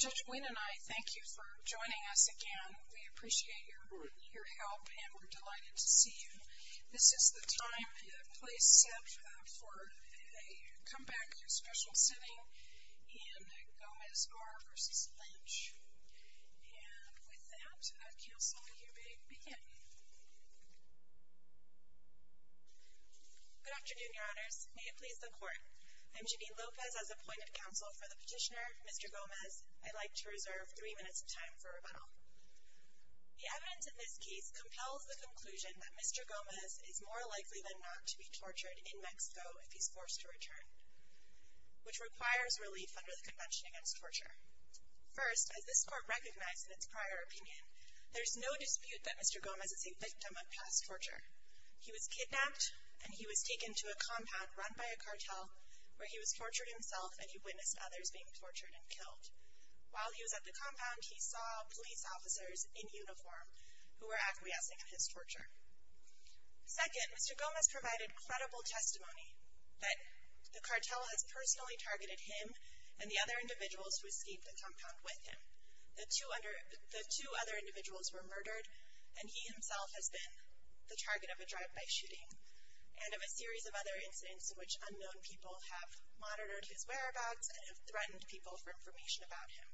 Judge Wynne and I thank you for joining us again. We appreciate your help and we're delighted to see you. This is the time, the place set for a comeback and special sitting in Gomez-R. v. Lynch. And with that, Counsel, you may begin. Good afternoon, Your Honors. May it please the Court, I'm Janine Lopez. As appointed counsel for the petitioner, Mr. Gomez, I'd like to reserve three minutes of time for rebuttal. The evidence in this case compels the conclusion that Mr. Gomez is more likely than not to be tortured in Mexico if he's forced to return, which requires relief under the Convention Against Torture. First, as this Court recognized in its prior opinion, there's no dispute that Mr. Gomez is a victim of past torture. He was kidnapped and he was taken to a compound run by a cartel where he was tortured himself and he witnessed others being tortured and killed. While he was at the compound, he saw police officers in uniform who were acquiescing in his torture. Second, Mr. Gomez provided credible testimony that the cartel has personally targeted him and the other individuals who escaped the compound with him. The two other individuals were murdered and he himself has been the target of a drive-by shooting and of a series of other incidents in which unknown people have monitored his whereabouts and have threatened people for information about him.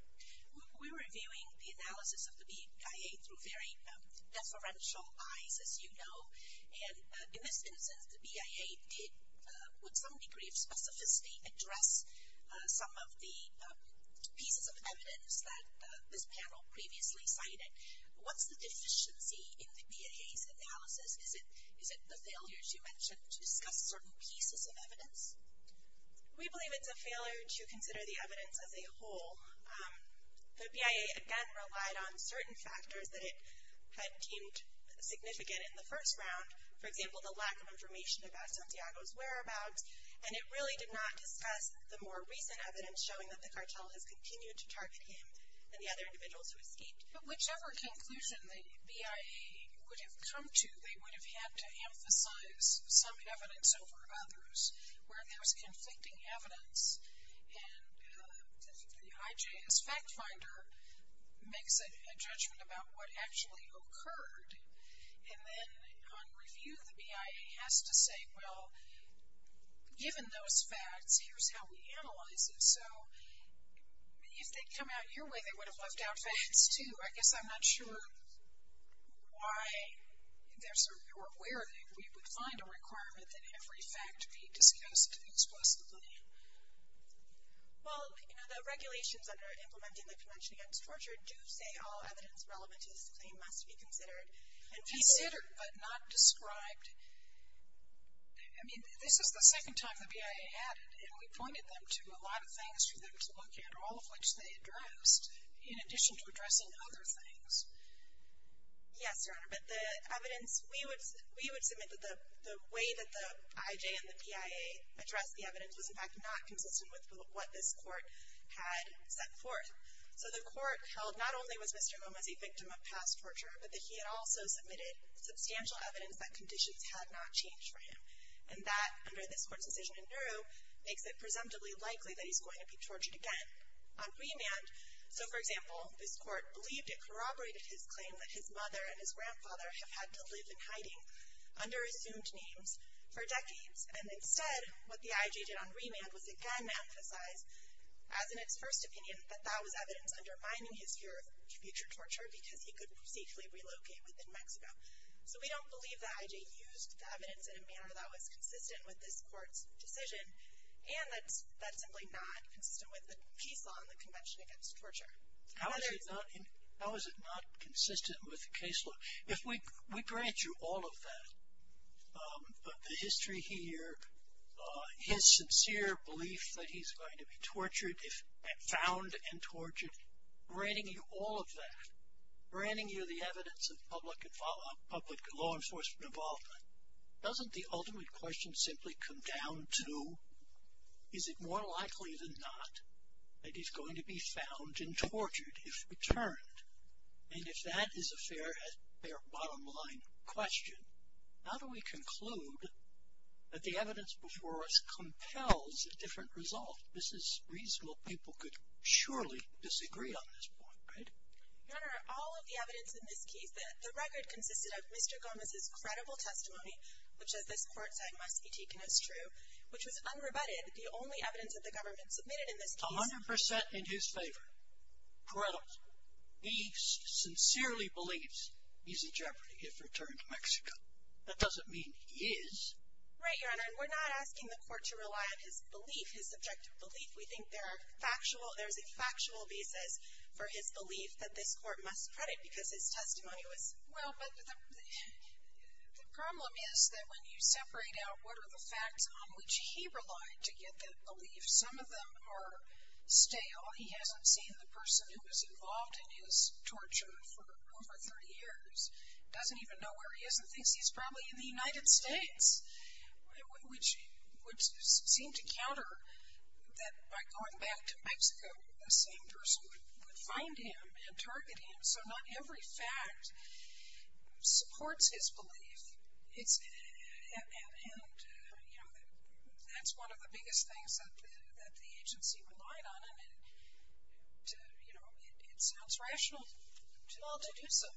We're reviewing the analysis of the BIA through very deferential eyes, as you know, and in this instance, the BIA did with some degree of specificity address some of the pieces of evidence that this panel previously cited. What's the deficiency in the BIA's analysis? Is it the failures you mentioned to discuss certain pieces of evidence? We believe it's a failure to consider the evidence as a whole. The BIA, again, relied on certain factors that it had deemed significant in the first round, for example, the lack of information about Santiago's whereabouts, and it really did not discuss the more recent evidence showing that the cartel has continued to target him and the other individuals who escaped. But whichever conclusion the BIA would have come to, they would have had to emphasize some evidence over others. Where there's conflicting evidence and the IJS fact finder makes a judgment about what actually occurred, and then on review, the BIA has to say, well, given those facts, here's how we analyze it. So if they'd come out your way, they would have left out facts, too. I guess I'm not sure why or where we would find a requirement that every fact be discussed exclusively. Well, you know, the regulations under Implementing the Convention Against Torture do say all evidence relevant to this claim must be considered. Considered but not described. I mean, this is the second time the BIA added, and we pointed them to a lot of things for them to look at, all of which they addressed, in addition to addressing other things. Yes, Your Honor. But the evidence, we would submit that the way that the IJ and the BIA addressed the evidence was in fact not consistent with what this court had set forth. So the court held not only was Mr. Nguyen a victim of past torture, but that he had also submitted substantial evidence that conditions had not changed for him. And that, under this court's decision in Nauru, makes it presumptively likely that he's going to be tortured again on remand. So, for example, this court believed it corroborated his claim that his mother and his grandfather have had to live in hiding under assumed names for decades. And instead, what the IJ did on remand was again emphasize, as in its first opinion, that that was evidence undermining his fear of future torture because he could safely relocate within Mexico. So we don't believe the IJ used the evidence in a manner that was consistent with this court's decision, and that's simply not consistent with the case law in the Convention Against Torture. How is it not consistent with the case law? If we grant you all of that, the history here, his sincere belief that he's going to be tortured, found and tortured, granting you all of that, granting you the evidence of public law enforcement involvement, doesn't the ultimate question simply come down to, is it more likely than not that he's going to be found and tortured if returned? And if that is a fair bottom line question, how do we conclude that the evidence before us compels a different result? This is reasonable people could surely disagree on this point, right? Your Honor, all of the evidence in this case, the record consisted of Mr. Gomez's credible testimony, which as this court said must be taken as true, which was unrebutted, the only evidence that the government submitted in this case- 100% in his favor. Credible. He sincerely believes he's in jeopardy if returned to Mexico. That doesn't mean he is. Right, Your Honor, and we're not asking the court to rely on his belief, his subjective belief. We think there are factual, there's a factual basis for his belief that this court must credit because his testimony was- Well, but the problem is that when you separate out what are the facts on which he relied to get that belief, some of them are stale. He hasn't seen the person who was involved in his torture for over 30 years, doesn't even know where he is and thinks he's probably in the United States, which would seem to counter that by going back to Mexico, the same person would find him and target him, so not every fact supports his belief. And, you know, that's one of the biggest things that the agency relied on, and, you know, it sounds rational to all to do so.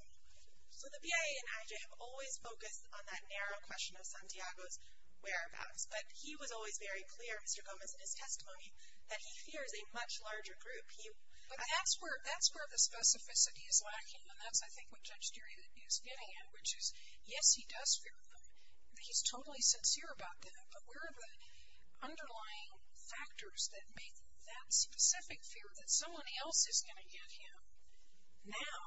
So the BIA and AJA have always focused on that narrow question of Santiago's whereabouts, but he was always very clear, Mr. Gomez, in his testimony, that he fears a much larger group. But that's where the specificity is lacking, and that's, I think, what Judge Deary is getting at, which is, yes, he does fear them, he's totally sincere about them, but where are the underlying factors that make that specific fear, that someone else is going to get him, now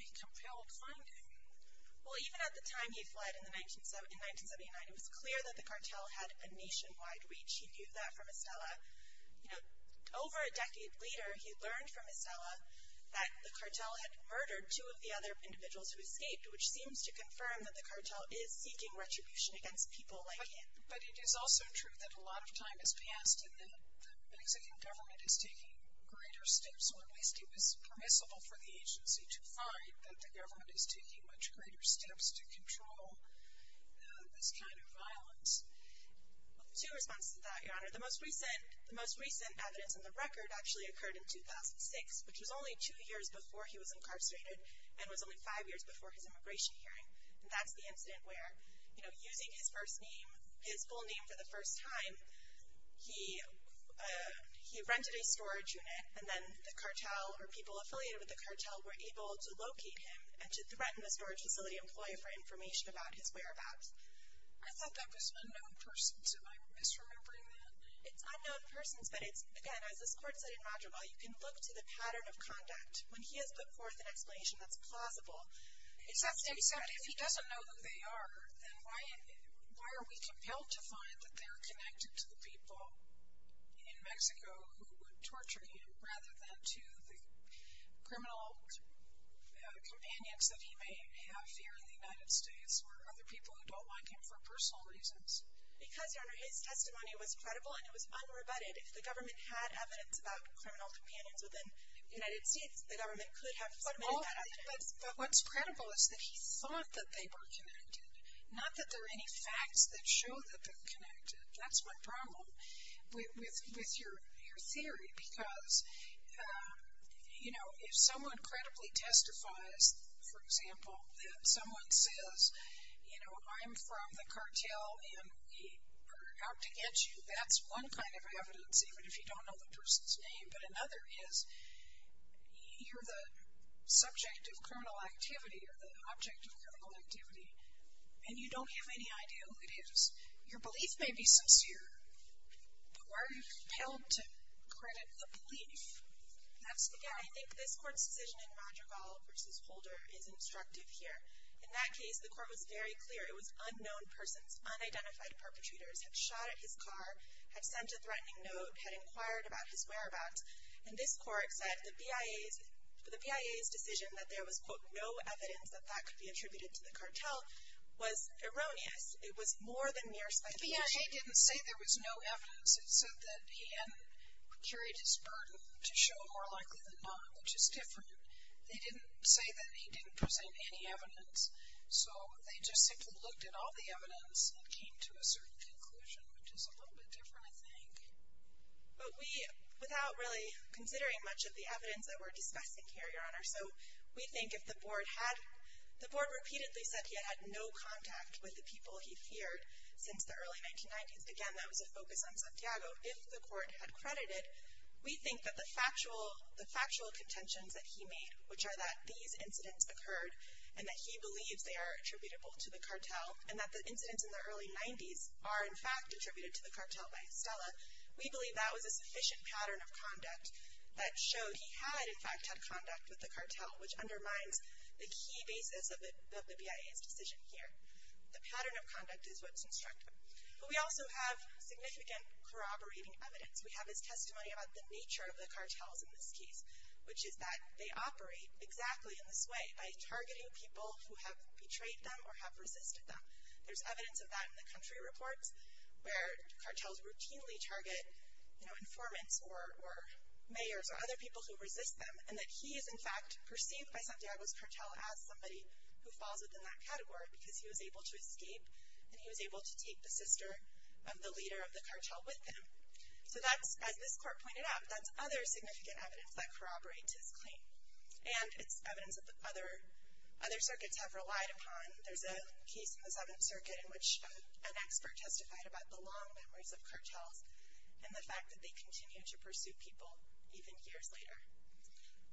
a compelled finding? Well, even at the time he fled in 1979, it was clear that the cartel had a nationwide reach. He knew that from Estella. You know, over a decade later, he learned from Estella that the cartel had murdered two of the other individuals who escaped, which seems to confirm that the cartel is seeking retribution against people like him. But it is also true that a lot of time has passed, and the Mexican government is taking greater steps, or at least it was permissible for the agency to find that the government is taking much greater steps to control this kind of violence. Well, two responses to that, Your Honor. The most recent evidence in the record actually occurred in 2006, which was only two years before he was incarcerated, and was only five years before his immigration hearing. And that's the incident where, you know, using his first name, his full name for the first time, he rented a storage unit, and then the cartel or people affiliated with the cartel were able to locate him and to threaten the storage facility employee for information about his whereabouts. I thought that was unknown persons. Am I misremembering that? It's unknown persons, but it's, again, as this Court said in Roger Ball, you can look to the pattern of conduct when he has put forth an explanation that's plausible. Except if he doesn't know who they are, then why are we compelled to find that they're connected to the people in Mexico who would torture him rather than to the criminal companions that he may have here in the United States or other people who don't like him for personal reasons? Because, Your Honor, his testimony was credible and it was unrebutted. If the government had evidence about criminal companions within the United States, the government could have submitted that evidence. But what's credible is that he thought that they were connected, not that there are any facts that show that they're connected. That's my problem with your theory because, you know, if someone credibly testifies, for example, that someone says, you know, I'm from the cartel and we're out to get you, that's one kind of evidence even if you don't know the person's name. But another is you're the subject of criminal activity or the object of criminal activity and you don't have any idea who it is. Your belief may be sincere, but why are you compelled to credit the belief? That's the problem. Yeah, I think this Court's decision in Roger Ball v. Holder is instructive here. In that case, the Court was very clear. It was unknown persons, unidentified perpetrators had shot at his car, had sent a threatening note, had inquired about his whereabouts. And this Court said the BIA's decision that there was, quote, no evidence that that could be attributed to the cartel was erroneous. It was more than mere speculation. The BIA didn't say there was no evidence. It said that he had carried his burden to show more likely than not, which is different. They didn't say that he didn't present any evidence. So they just simply looked at all the evidence and came to a certain conclusion, which is a little bit different, I think. But we, without really considering much of the evidence that we're discussing here, Your Honor, so we think if the Board had, the Board repeatedly said he had had no contact with the people he feared since the early 1990s. Again, that was a focus on Santiago. If the Court had credited, we think that the factual contentions that he made, which are that these incidents occurred and that he believes they are attributable to the cartel and that the incidents in the early 90s are, in fact, attributed to the cartel by Estella, we believe that was a sufficient pattern of conduct that showed he had, in fact, had conduct with the cartel, which undermines the key basis of the BIA's decision here. The pattern of conduct is what's instructive. But we also have significant corroborating evidence. We have his testimony about the nature of the cartels in this case, which is that they operate exactly in this way, by targeting people who have betrayed them or have resisted them. There's evidence of that in the country reports, where cartels routinely target informants or mayors or other people who resist them, and that he is, in fact, perceived by Santiago's cartel as somebody who falls within that category because he was able to escape and he was able to take the sister of the leader of the cartel with him. So that's, as this court pointed out, that's other significant evidence that corroborates his claim. And it's evidence that other circuits have relied upon. There's a case in the Seventh Circuit in which an expert testified about the long memories of cartels and the fact that they continue to pursue people even years later.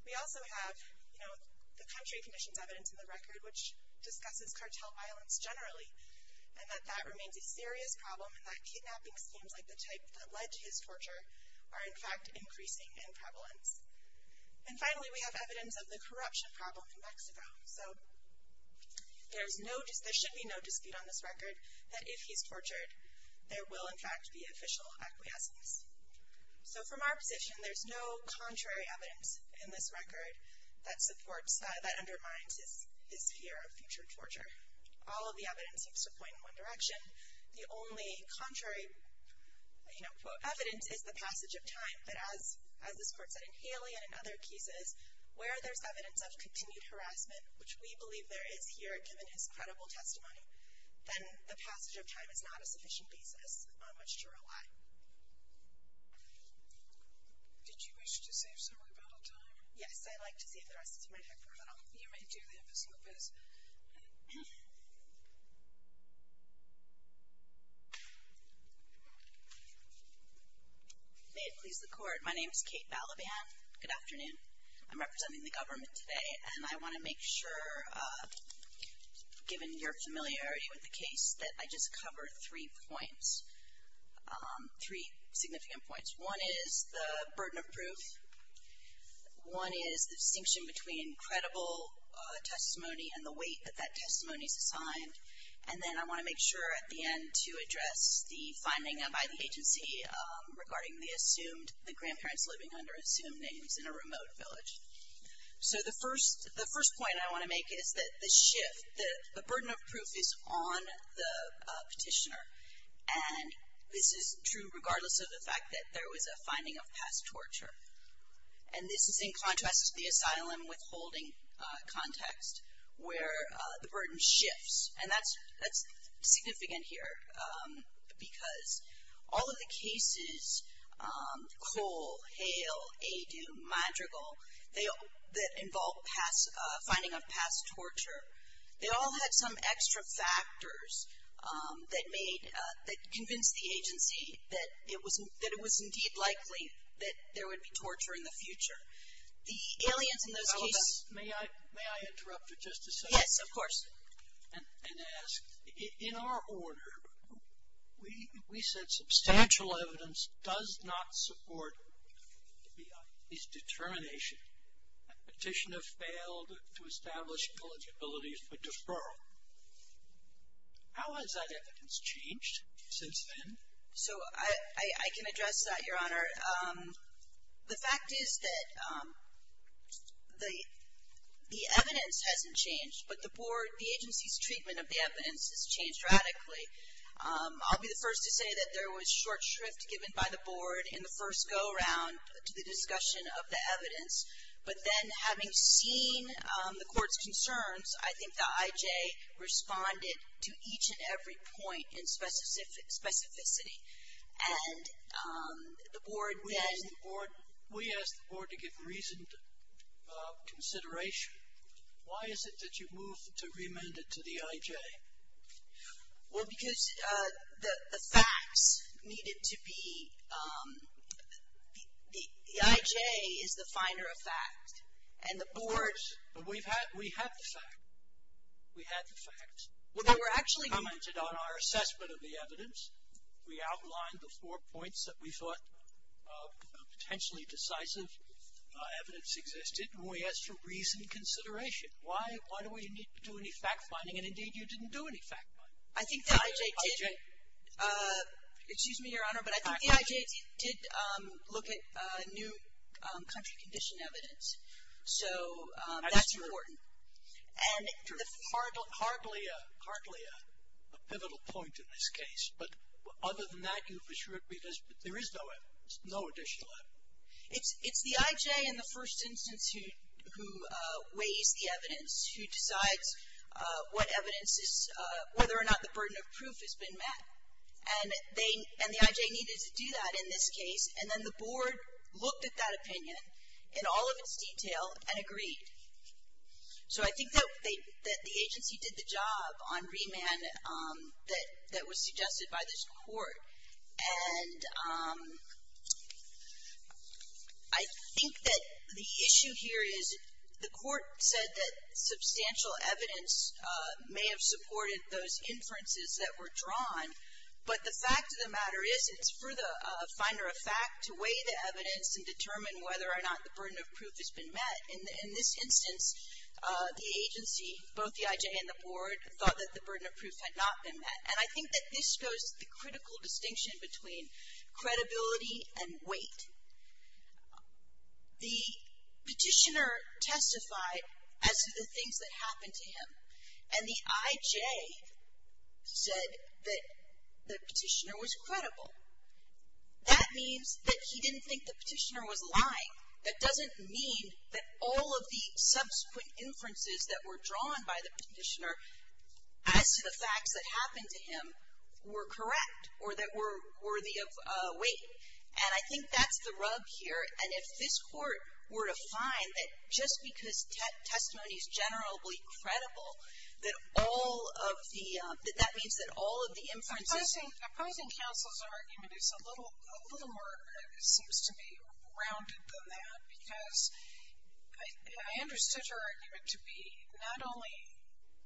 We also have, you know, the country conditions evidence in the record, which discusses cartel violence generally, and that that remains a serious problem and that kidnapping schemes like the type that led to his torture are, in fact, increasing in prevalence. And finally, we have evidence of the corruption problem in Mexico. So there should be no dispute on this record that if he's tortured, there will, in fact, be official acquiescence. So from our position, there's no contrary evidence in this record that undermines his fear of future torture. All of the evidence seems to point in one direction. The only contrary, you know, quote, evidence is the passage of time. But as this court said in Haley and in other cases, where there's evidence of continued harassment, which we believe there is here given his credible testimony, then the passage of time is not a sufficient basis on which to rely. Did you wish to save some rebuttal time? Yes, I'd like to save the rest of my time for rebuttal. You may do that, Ms. Lopez. May it please the Court, my name is Kate Balaban. Good afternoon. I'm representing the government today, and I want to make sure, given your familiarity with the case, that I just cover three points, three significant points. One is the burden of proof. One is the distinction between credible testimony and the weight that that testimony is assigned. And then I want to make sure at the end to address the finding by the agency regarding the assumed, the grandparents living under assumed names in a remote village. So the first point I want to make is that the shift, the burden of proof is on the petitioner. And this is true regardless of the fact that there was a finding of past torture. And this is in contrast to the asylum withholding context where the burden shifts. And that's significant here because all of the cases, Cole, Hale, Adu, Madrigal, that involved finding of past torture, they all had some extra factors that made, that convinced the agency that it was indeed likely that there would be torture in the future. The aliens in those cases. Ms. Lopez, may I interrupt for just a second? Yes, of course. And ask, in our order, we said substantial evidence does not support this determination. Petitioner failed to establish eligibility for deferral. How has that evidence changed since then? So I can address that, Your Honor. The fact is that the evidence hasn't changed, but the board, the agency's treatment of the evidence has changed radically. I'll be the first to say that there was short shrift given by the board in the first go-round to the discussion of the evidence. But then having seen the court's concerns, I think the IJ responded to each and every point in specificity. And the board then We asked the board to give reasoned consideration. Why is it that you moved to remand it to the IJ? Well, because the facts needed to be, the IJ is the finder of facts. And the board. But we had the facts. We had the facts. We commented on our assessment of the evidence. We outlined the four points that we thought potentially decisive evidence existed. And we asked for reasoned consideration. Why do we need to do any fact-finding? And, indeed, you didn't do any fact-finding. I think the IJ did. Excuse me, Your Honor, but I think the IJ did look at new country condition evidence. So that's important. That's true. Hardly a pivotal point in this case. But other than that, there is no evidence, no additional evidence. It's the IJ in the first instance who weighs the evidence, who decides what evidence is, whether or not the burden of proof has been met. And the IJ needed to do that in this case. And then the board looked at that opinion in all of its detail and agreed. So I think that the agency did the job on remand that was suggested by this court. And I think that the issue here is the court said that substantial evidence may have supported those inferences that were drawn. But the fact of the matter is it's for the finder of fact to weigh the evidence and determine whether or not the burden of proof has been met. In this instance, the agency, both the IJ and the board, thought that the burden of proof had not been met. And I think that this goes to the critical distinction between credibility and weight. The petitioner testified as to the things that happened to him. And the IJ said that the petitioner was credible. That means that he didn't think the petitioner was lying. That doesn't mean that all of the subsequent inferences that were drawn by the petitioner as to the facts that happened to him were correct or that were worthy of weight. And I think that's the rub here. And if this court were to find that just because testimony is generally credible, that all of the — that means that all of the inferences — that would be more rounded than that. Because I understood her argument to be not only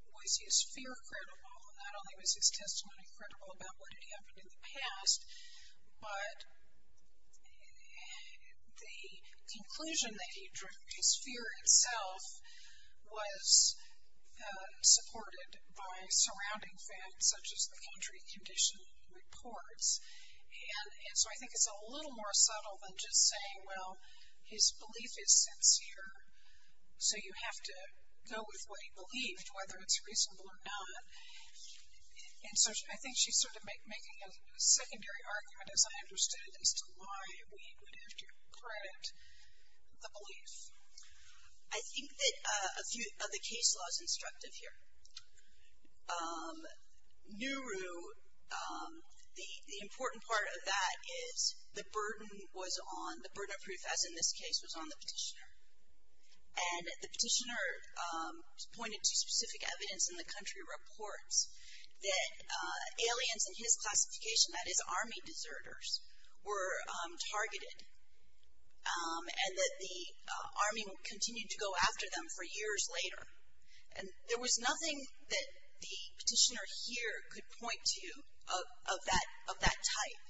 was his fear credible, not only was his testimony credible about what had happened in the past, but the conclusion that he drew, his fear itself, was supported by surrounding facts such as the country condition reports. And so I think it's a little more subtle than just saying, well, his belief is sincere, so you have to go with what he believed, whether it's reasonable or not. And so I think she's sort of making a secondary argument, as I understood it, as to why we would have to credit the belief. I think that a few of the case law is instructive here. Nuru, the important part of that is the burden was on — the burden of proof, as in this case, was on the petitioner. And the petitioner pointed to specific evidence in the country reports that aliens in his classification, that is army deserters, were targeted. And that the arming continued to go after them for years later. And there was nothing that the petitioner here could point to of that type.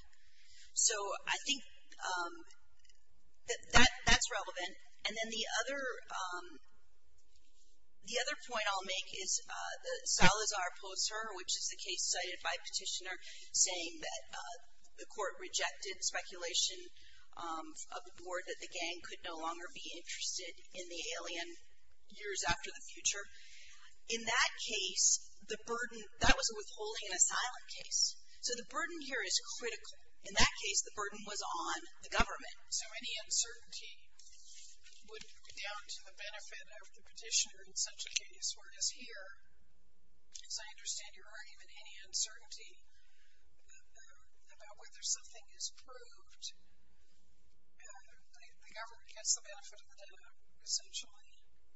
So I think that that's relevant. And then the other point I'll make is Salazar Pulitzer, which is the case cited by petitioner, saying that the court rejected speculation of the board that the gang could no longer be interested in the alien years after the future. In that case, the burden — that was a withholding and asylum case. So the burden here is critical. In that case, the burden was on the government. So any uncertainty would be down to the benefit of the petitioner in such a case. This word is here. As I understand, there aren't even any uncertainty about whether something is proved. The government gets the benefit of the doubt, essentially.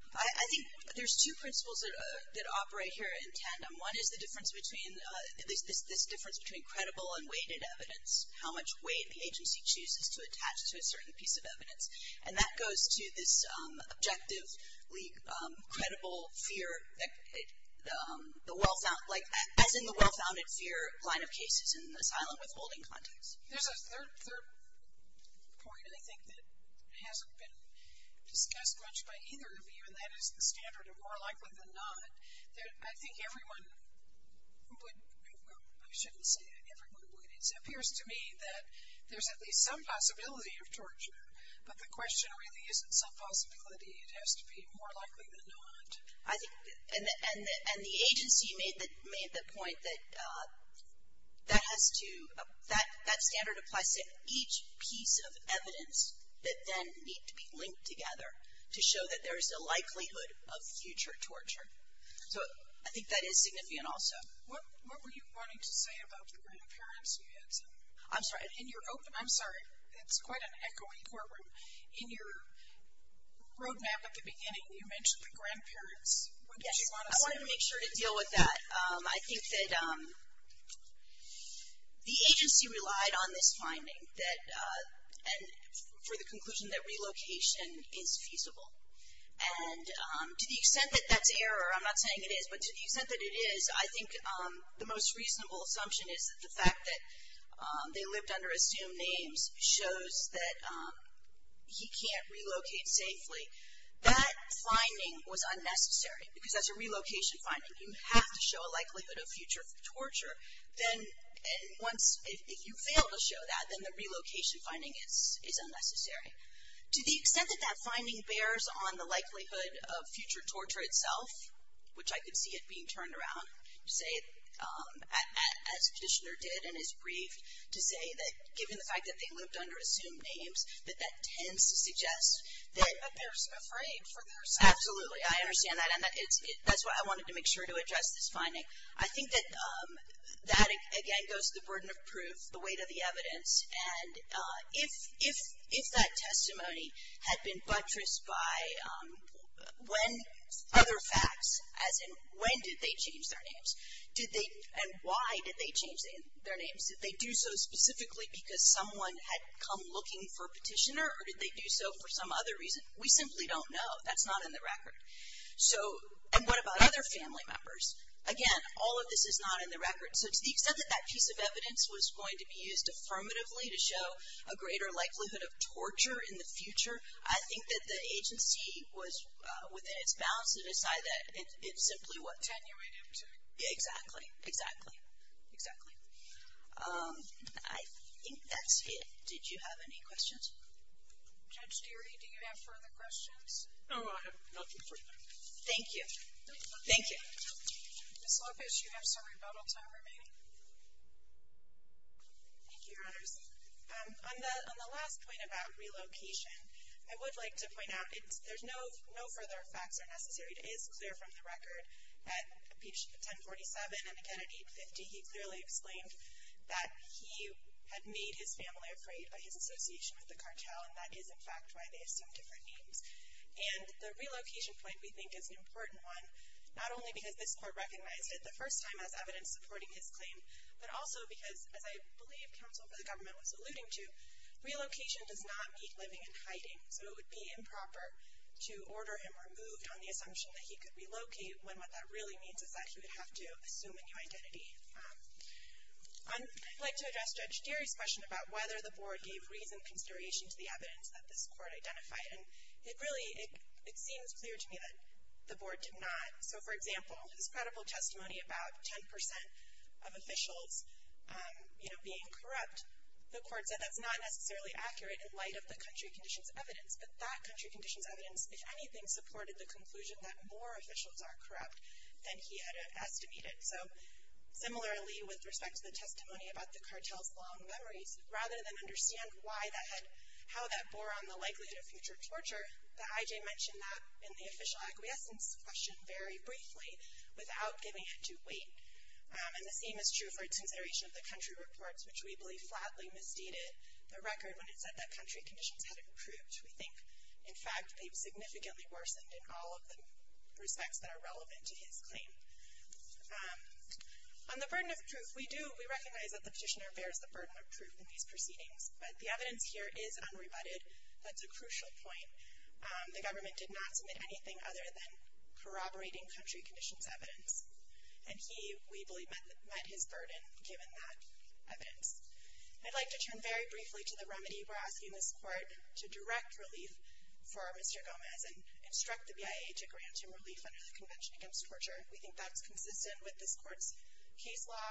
I think there's two principles that operate here in tandem. One is the difference between — this difference between credible and weighted evidence. How much weight the agency chooses to attach to a certain piece of evidence. And that goes to this objectively credible fear, as in the well-founded fear line of cases in the asylum withholding context. There's a third point, I think, that hasn't been discussed much by either of you, and that is the standard of more likely than not. I think everyone would — I shouldn't say that everyone would. It appears to me that there's at least some possibility of torture. But the question really isn't some possibility. It has to be more likely than not. I think — and the agency made the point that that has to — that standard applies to each piece of evidence that then need to be linked together to show that there is a likelihood of future torture. So I think that is significant also. What were you wanting to say about the reappearance? You had some — I'm sorry. In your open — I'm sorry. It's quite an echoing courtroom. In your roadmap at the beginning, you mentioned the grandparents. What did you want to say? Yes. I wanted to make sure to deal with that. I think that the agency relied on this finding that — and for the conclusion that relocation is feasible. And to the extent that that's error, I'm not saying it is, but to the extent that it is, I think the most reasonable assumption is that the fact that they lived under assumed names shows that he can't relocate safely. That finding was unnecessary because that's a relocation finding. You have to show a likelihood of future torture. Then once — if you fail to show that, then the relocation finding is unnecessary. To the extent that that finding bears on the likelihood of future torture itself, which I could see it being turned around to say, as Kishner did and as briefed, to say that given the fact that they lived under assumed names, that that tends to suggest that — But they're afraid for their safety. Absolutely. I understand that. And that's why I wanted to make sure to address this finding. I think that that, again, goes to the burden of proof, the weight of the evidence. And if that testimony had been buttressed by other facts, as in when did they change their names? Did they — and why did they change their names? Did they do so specifically because someone had come looking for a petitioner, or did they do so for some other reason? We simply don't know. That's not in the record. So — and what about other family members? Again, all of this is not in the record. So to the extent that that piece of evidence was going to be used affirmatively to show a greater likelihood of torture in the future, I think that the agency was within its bounds to decide that it simply was. To attenuate him to — Exactly. Exactly. Exactly. I think that's it. Did you have any questions? Judge Geary, do you have further questions? No, I have nothing further. Thank you. Thank you. Ms. Lopez, you have some rebuttal time remaining. Thank you, Your Honors. On the last point about relocation, I would like to point out there's no further facts are necessary. It is clear from the record that at 1047 and again at 850, he clearly explained that he had made his family afraid by his association with the cartel, and that is, in fact, why they assumed different names. And the relocation point, we think, is an important one, not only because this Court recognized it the first time as evidence supporting his claim, but also because, as I believe counsel for the government was alluding to, relocation does not mean living in hiding. So it would be improper to order him removed on the assumption that he could relocate when what that really means is that he would have to assume a new identity. I'd like to address Judge Geary's question about whether the Board gave reasoned consideration to the evidence that this Court identified. And it really, it seems clear to me that the Board did not. So, for example, his credible testimony about 10% of officials, you know, being corrupt, the Court said that's not necessarily accurate in light of the country conditions evidence. But that country conditions evidence, if anything, supported the conclusion that more officials are corrupt than he had estimated. So similarly, with respect to the testimony about the cartel's long memories, rather than understand why that had, how that bore on the likelihood of future torture, the IJ mentioned that in the official acquiescence question very briefly, without giving it to Wade. And the same is true for its consideration of the country reports, which we believe flatly misdated the record when it said that country conditions hadn't improved. We think, in fact, they've significantly worsened in all of the respects that are relevant to his claim. On the burden of proof, we do, we recognize that the petitioner bears the burden of proof in these proceedings. But the evidence here is unrebutted. That's a crucial point. The government did not submit anything other than corroborating country conditions evidence. And he, we believe, met his burden given that evidence. I'd like to turn very briefly to the remedy. We're asking this Court to direct relief for Mr. Gomez and instruct the BIA to grant him relief under the Convention Against Torture. We think that's consistent with this Court's case law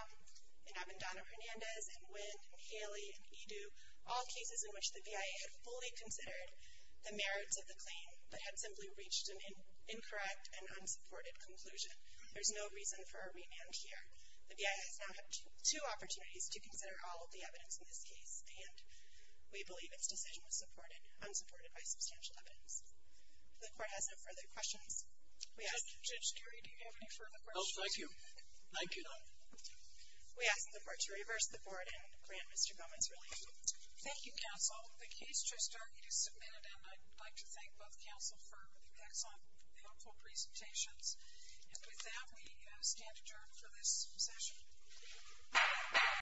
in Avendano-Hernandez and Wynn and Haley and Edu, all cases in which the BIA had fully considered the merits of the claim but had simply reached an incorrect and unsupported conclusion. There's no reason for a remand here. The BIA has now had two opportunities to consider all of the evidence in this case, and we believe its decision was supported, unsupported by substantial evidence. The Court has no further questions. We ask that Judge Geary, do you have any further questions? No, thank you. Thank you. We ask the Court to reverse the Board and grant Mr. Gomez relief. Thank you, Counsel. The case just argued is submitted, and I'd like to thank both Counsel for the excellent, powerful presentations. And with that, we stand adjourned for this session.